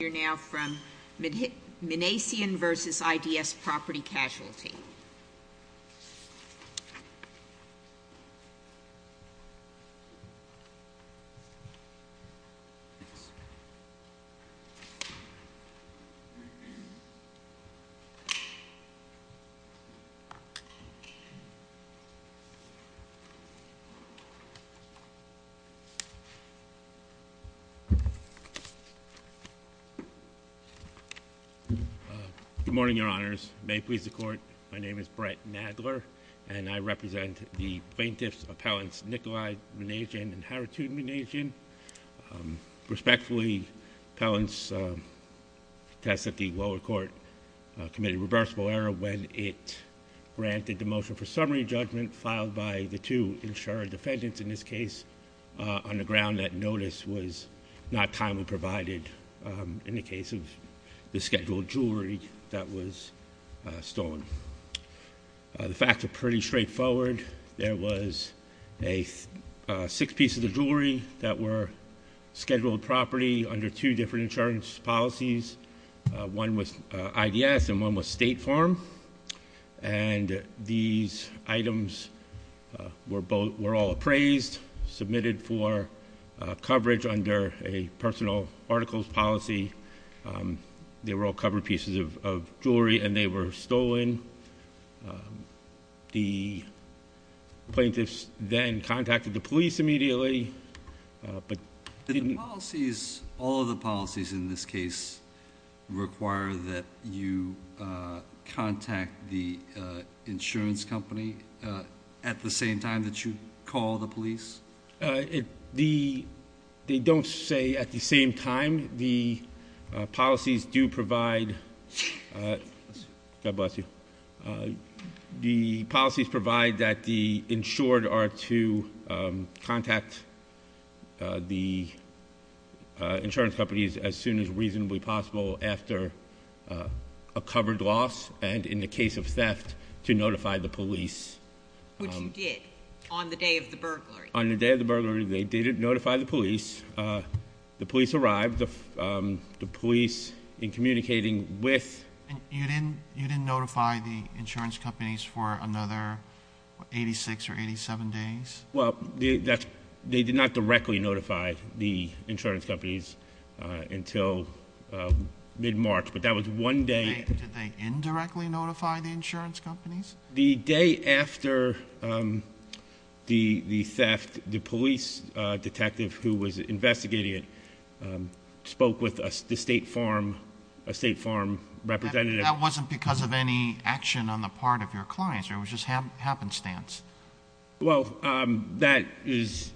Minasian v. IDS Property Casualty. Good morning, Your Honors. May it please the Court, my name is Brett Nadler and I represent the plaintiffs' appellants Nicolai Minasian and Haritudin Minasian. Respectfully, appellants test that the lower court committed reversible error when it granted the motion for summary judgment filed by the two insured defendants in this case on the ground that notice was not timely provided in the case of the scheduled jewelry that was stolen. The facts are pretty straightforward. There was six pieces of jewelry that were scheduled property under two different insurance policies. One was IDS and one was State Farm. And these items were all appraised, submitted for coverage under a personal articles policy. They were all covered pieces of jewelry and they were stolen. The plaintiffs then contacted the police immediately. Did the policies, all of the policies in this case require that you contact the insurance company at the same time that you call the police? They don't say at the same time. The policies do provide, God bless you, the policies provide that the insured are to contact the insurance companies as soon as reasonably possible after a covered loss and in the case of theft to notify the police. Which you did on the day of the burglary? On the day of the burglary, they did notify the police. The police arrived. The police in communicating with... And you didn't notify the insurance companies for another 86 or 87 days? Well, they did not directly notify the insurance companies until mid-March, but that was one day. Did they indirectly notify the insurance companies? The day after the theft, the police detective who was investigating it spoke with the State Farm representative. That wasn't because of any action on the part of your clients, it was just happenstance. Well, that is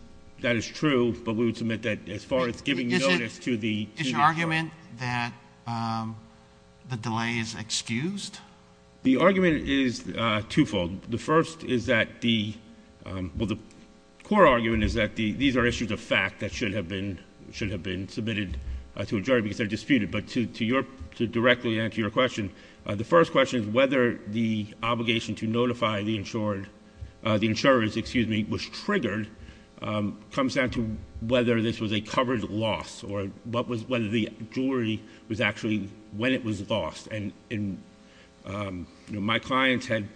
true, but we would submit that as far as giving notice to the insurance company. Is your argument that the delay is excused? The argument is twofold. The first is that the, well the core argument is that these are issues of fact that should have been submitted to a jury because they're disputed, but to directly answer your question, the first question is whether the obligation to notify the insured, the insurers, excuse me, was triggered, comes down to whether this was a covered loss or whether the jury was actually, when it was lost. And my clients had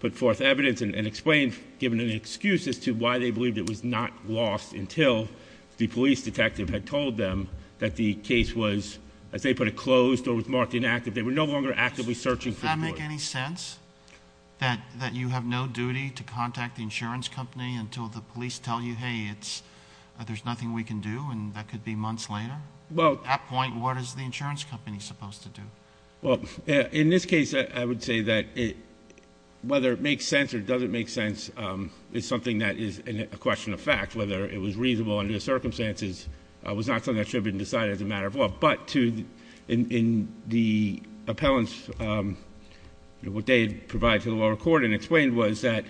put forth evidence and explained, given an excuse as to why they believed it was not lost until the police detective had told them that the case was, as they put it, closed or was marked inactive. They were no longer actively searching for the boy. Does it make any sense that you have no duty to contact the insurance company until the police tell you, hey, it's, there's nothing we can do, and that could be months later? At that point, what is the insurance company supposed to do? Well, in this case, I would say that whether it makes sense or doesn't make sense is something that is a question of fact. Whether it was reasonable under the circumstances was not something that should have been decided as a matter of law. But to, in the appellants, what they had provided to the lower court and explained was that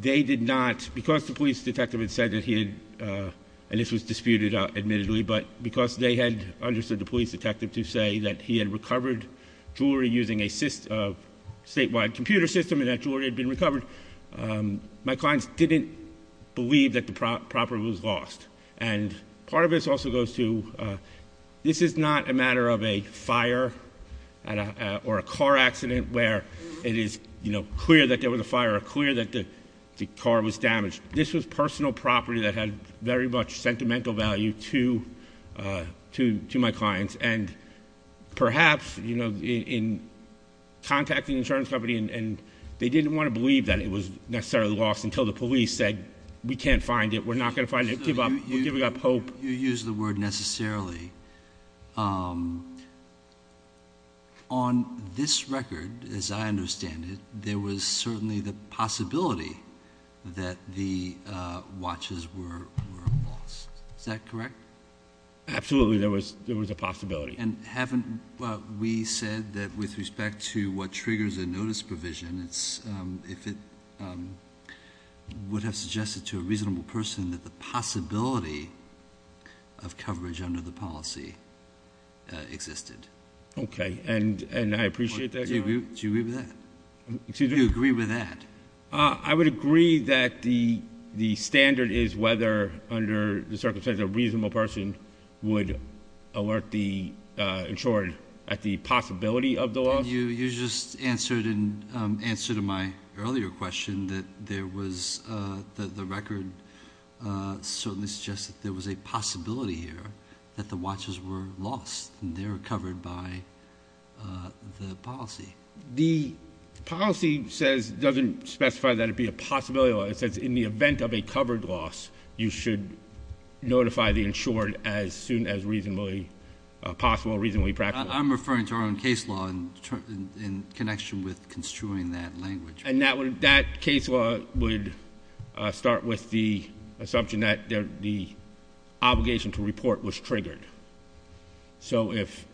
they did not, because the police detective had said that he had, and this was disputed, admittedly, but because they had understood the police detective to say that he had recovered jewelry using a system, a statewide computer system, and that jewelry had been recovered, my clients didn't believe that the property was lost. And part of this also goes to, this is not a matter of a fire or a car accident where it is clear that there was a fire or clear that the car was damaged. This was personal property that had very much sentimental value to my clients. And perhaps in contacting the insurance company and they didn't want to believe that it was necessarily lost until the police said, we can't find it, we're not going to find it, give up, we're giving up hope. You use the word necessarily. On this record, as I understand it, there was certainly the possibility that the watches were lost. Is that correct? Absolutely, there was a possibility. And haven't we said that with respect to what triggers a notice provision, if it would have suggested to a reasonable person that the possibility of coverage under the policy existed. Okay, and I appreciate that. Do you agree with that? Do you agree with that? I would agree that the standard is whether under the circumstances a reasonable person would alert the insured at the possibility of the loss. You just answered in answer to my earlier question that there was the record certainly suggests that there was a possibility here that the watches were lost and they were covered by the policy. The policy says, doesn't specify that it'd be a possibility. It says in the event of a covered loss, you should notify the insured as soon as reasonably possible, reasonably practical. I'm referring to our own case law in connection with construing that language. And that case law would start with the assumption that the obligation to report was triggered. So if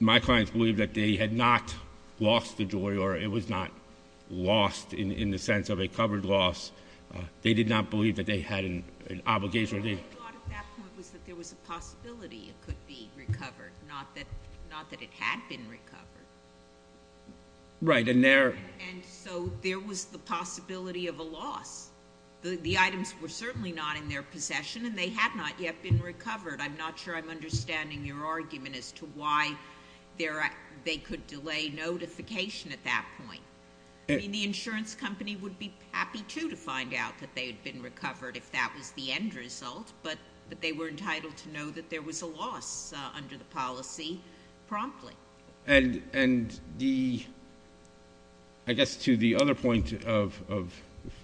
my clients believe that they had not lost the jewelry or it was not lost in the sense of a covered loss, they did not believe that they had an obligation. What I thought at that point was that there was a possibility it could be recovered, not that it had been recovered. Right, and there- And so there was the possibility of a loss. The items were certainly not in their possession and they had not yet been recovered. I'm not sure I'm understanding your argument as to why they could delay notification at that point. I mean, the insurance company would be happy too to find out that they had been recovered if that was the end result. But they were entitled to know that there was a loss under the policy promptly. And I guess to the other point of,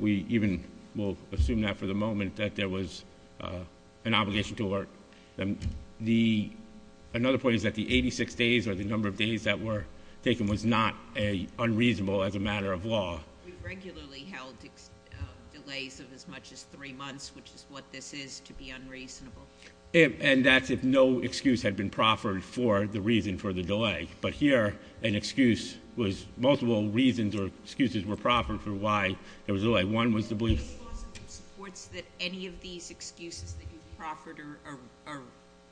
we even will assume that for the moment, that there was an obligation to work. And another point is that the 86 days or the number of days that were taken was not unreasonable as a matter of law. We regularly held delays of as much as three months, which is what this is, to be unreasonable. And that's if no excuse had been proffered for the reason for the delay. But here, an excuse was multiple reasons or excuses were proffered for why there was a delay. One was the belief- Any cause that supports that any of these excuses that you've proffered are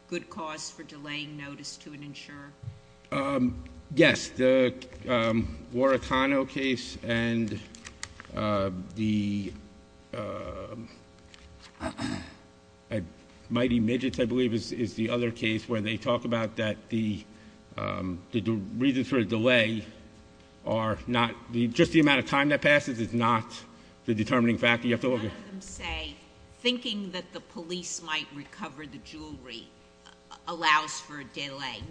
good cause for delaying notice to an insurer? Yes, the Warakano case and the Mighty Midgets, I believe, is the other case where they talk about that the reasons for a delay are not, just the amount of time that passes is not the determining factor. You have to look at- None of them say thinking that the police might recover the jewelry allows for a delay.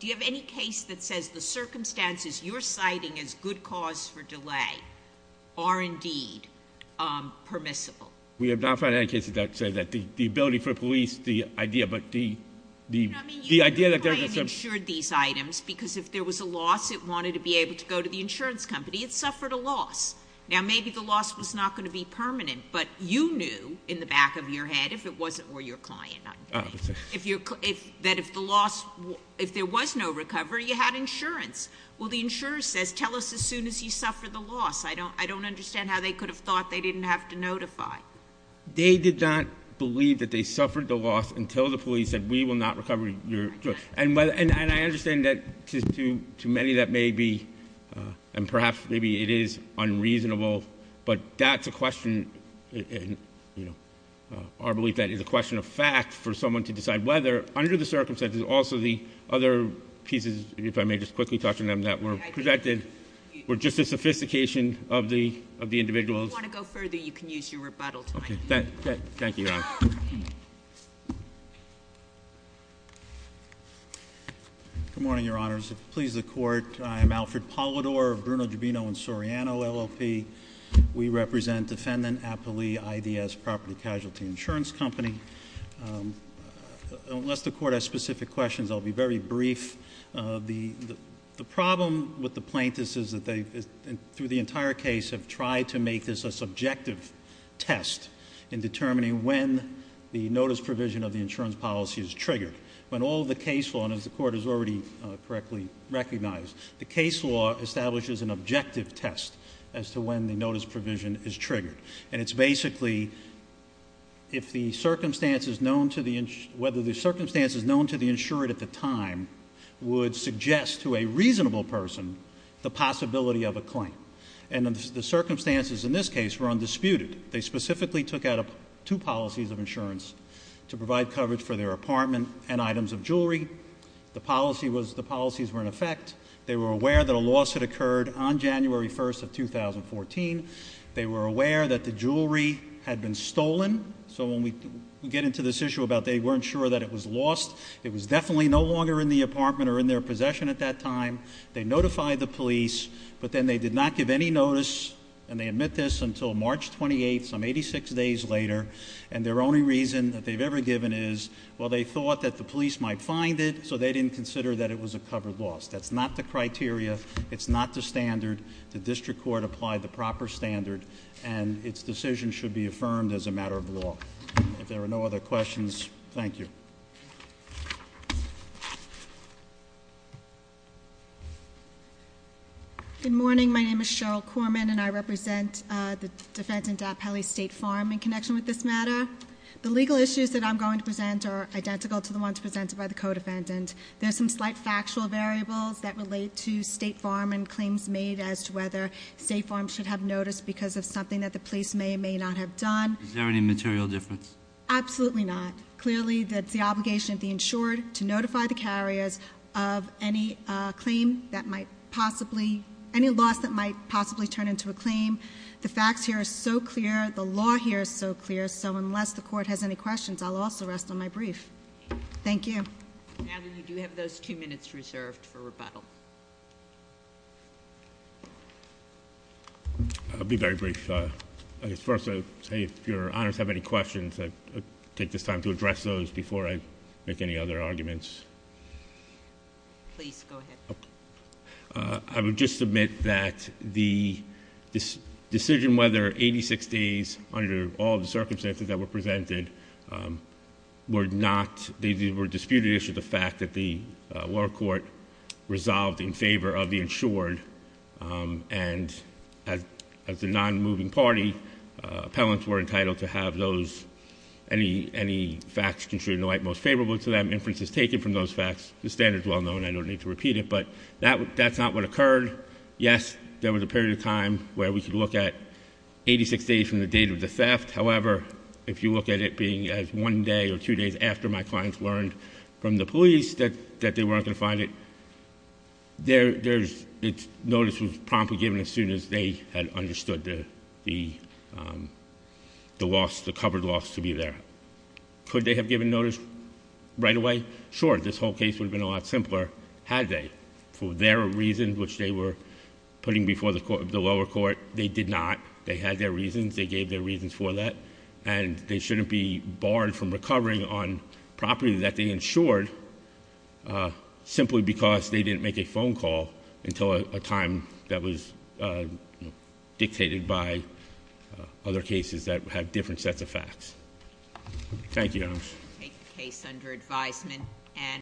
Do you have any case that says the circumstances you're citing as good cause for delay are indeed permissible? We have not found any cases that say that. The ability for police, the idea, but the idea that there's a- Your client insured these items because if there was a loss, it wanted to be able to go to the insurance company. It suffered a loss. Now, maybe the loss was not going to be permanent, but you knew in the back of your head, if it wasn't for your client, that if the loss, if there was no recovery, you had insurance. Well, the insurer says, tell us as soon as you suffered the loss. I don't understand how they could have thought they didn't have to notify. They did not believe that they suffered the loss until the police said, we will not recover your jewelry. And I understand that to many that may be, and perhaps maybe it is unreasonable. But that's a question, our belief that is a question of fact for someone to decide whether. Under the circumstances, also the other pieces, if I may just quickly touch on them, that were projected were just a sophistication of the individual's- If you want to go further, you can use your rebuttal time. Thank you, Your Honor. Good morning, Your Honors. Please, the court. I am Alfred Polidor of Bruno Giubino and Soriano, LLP. We represent defendant Apolli, IDS, Property Casualty Insurance Company. Unless the court has specific questions, I'll be very brief. The problem with the plaintiffs is that they, through the entire case, have tried to make this a subjective test in determining when the notice provision of the insurance policy is triggered. When all the case law, and as the court has already correctly recognized, the case law establishes an objective test as to when the notice provision is triggered. And it's basically, if the circumstances known to the, would suggest to a reasonable person the possibility of a claim. And the circumstances in this case were undisputed. They specifically took out two policies of insurance to provide coverage for their apartment and items of jewelry. The policies were in effect. They were aware that a loss had occurred on January 1st of 2014. They were aware that the jewelry had been stolen. So when we get into this issue about they weren't sure that it was lost. It was definitely no longer in the apartment or in their possession at that time. They notified the police, but then they did not give any notice. And they admit this until March 28th, some 86 days later. And their only reason that they've ever given is, well, they thought that the police might find it, so they didn't consider that it was a covered loss. That's not the criteria, it's not the standard. The district court applied the proper standard, and its decision should be affirmed as a matter of law. If there are no other questions, thank you. Good morning, my name is Cheryl Corman, and I represent the defendant at Pelly State Farm in connection with this matter. The legal issues that I'm going to present are identical to the ones presented by the co-defendant. There's some slight factual variables that relate to State Farm and claims made as to whether State Farm should have noticed because of something that the police may or may not have done. Is there any material difference? Absolutely not. Clearly, that's the obligation of the insured to notify the carriers of any claim that might possibly, any loss that might possibly turn into a claim, the facts here are so clear, the law here is so clear. So unless the court has any questions, I'll also rest on my brief. Thank you. Now that you do have those two minutes reserved for rebuttal. I'll be very brief. I guess first I'll say if your honors have any questions, I'll take this time to address those before I make any other arguments. Please, go ahead. I would just submit that the decision whether 86 days, under all the circumstances that were presented, were not, they were disputed as to the fact that the lower court resolved in favor of the insured. And as a non-moving party, appellants were entitled to have those, any facts construed in the light most favorable to them, inferences taken from those facts. The standard's well known, I don't need to repeat it, but that's not what occurred. Yes, there was a period of time where we could look at 86 days from the date of the theft. However, if you look at it being as one day or two days after my clients learned from the police that they weren't going to find it. Their notice was promptly given as soon as they had understood the covered loss to be there. Could they have given notice right away? Sure, this whole case would have been a lot simpler had they. For their reason, which they were putting before the lower court, they did not. They had their reasons, they gave their reasons for that. And they shouldn't be barred from recovering on property that they insured simply because they didn't make a phone call until a time that was dictated by other cases that had different sets of facts. Thank you. Take the case under advisement.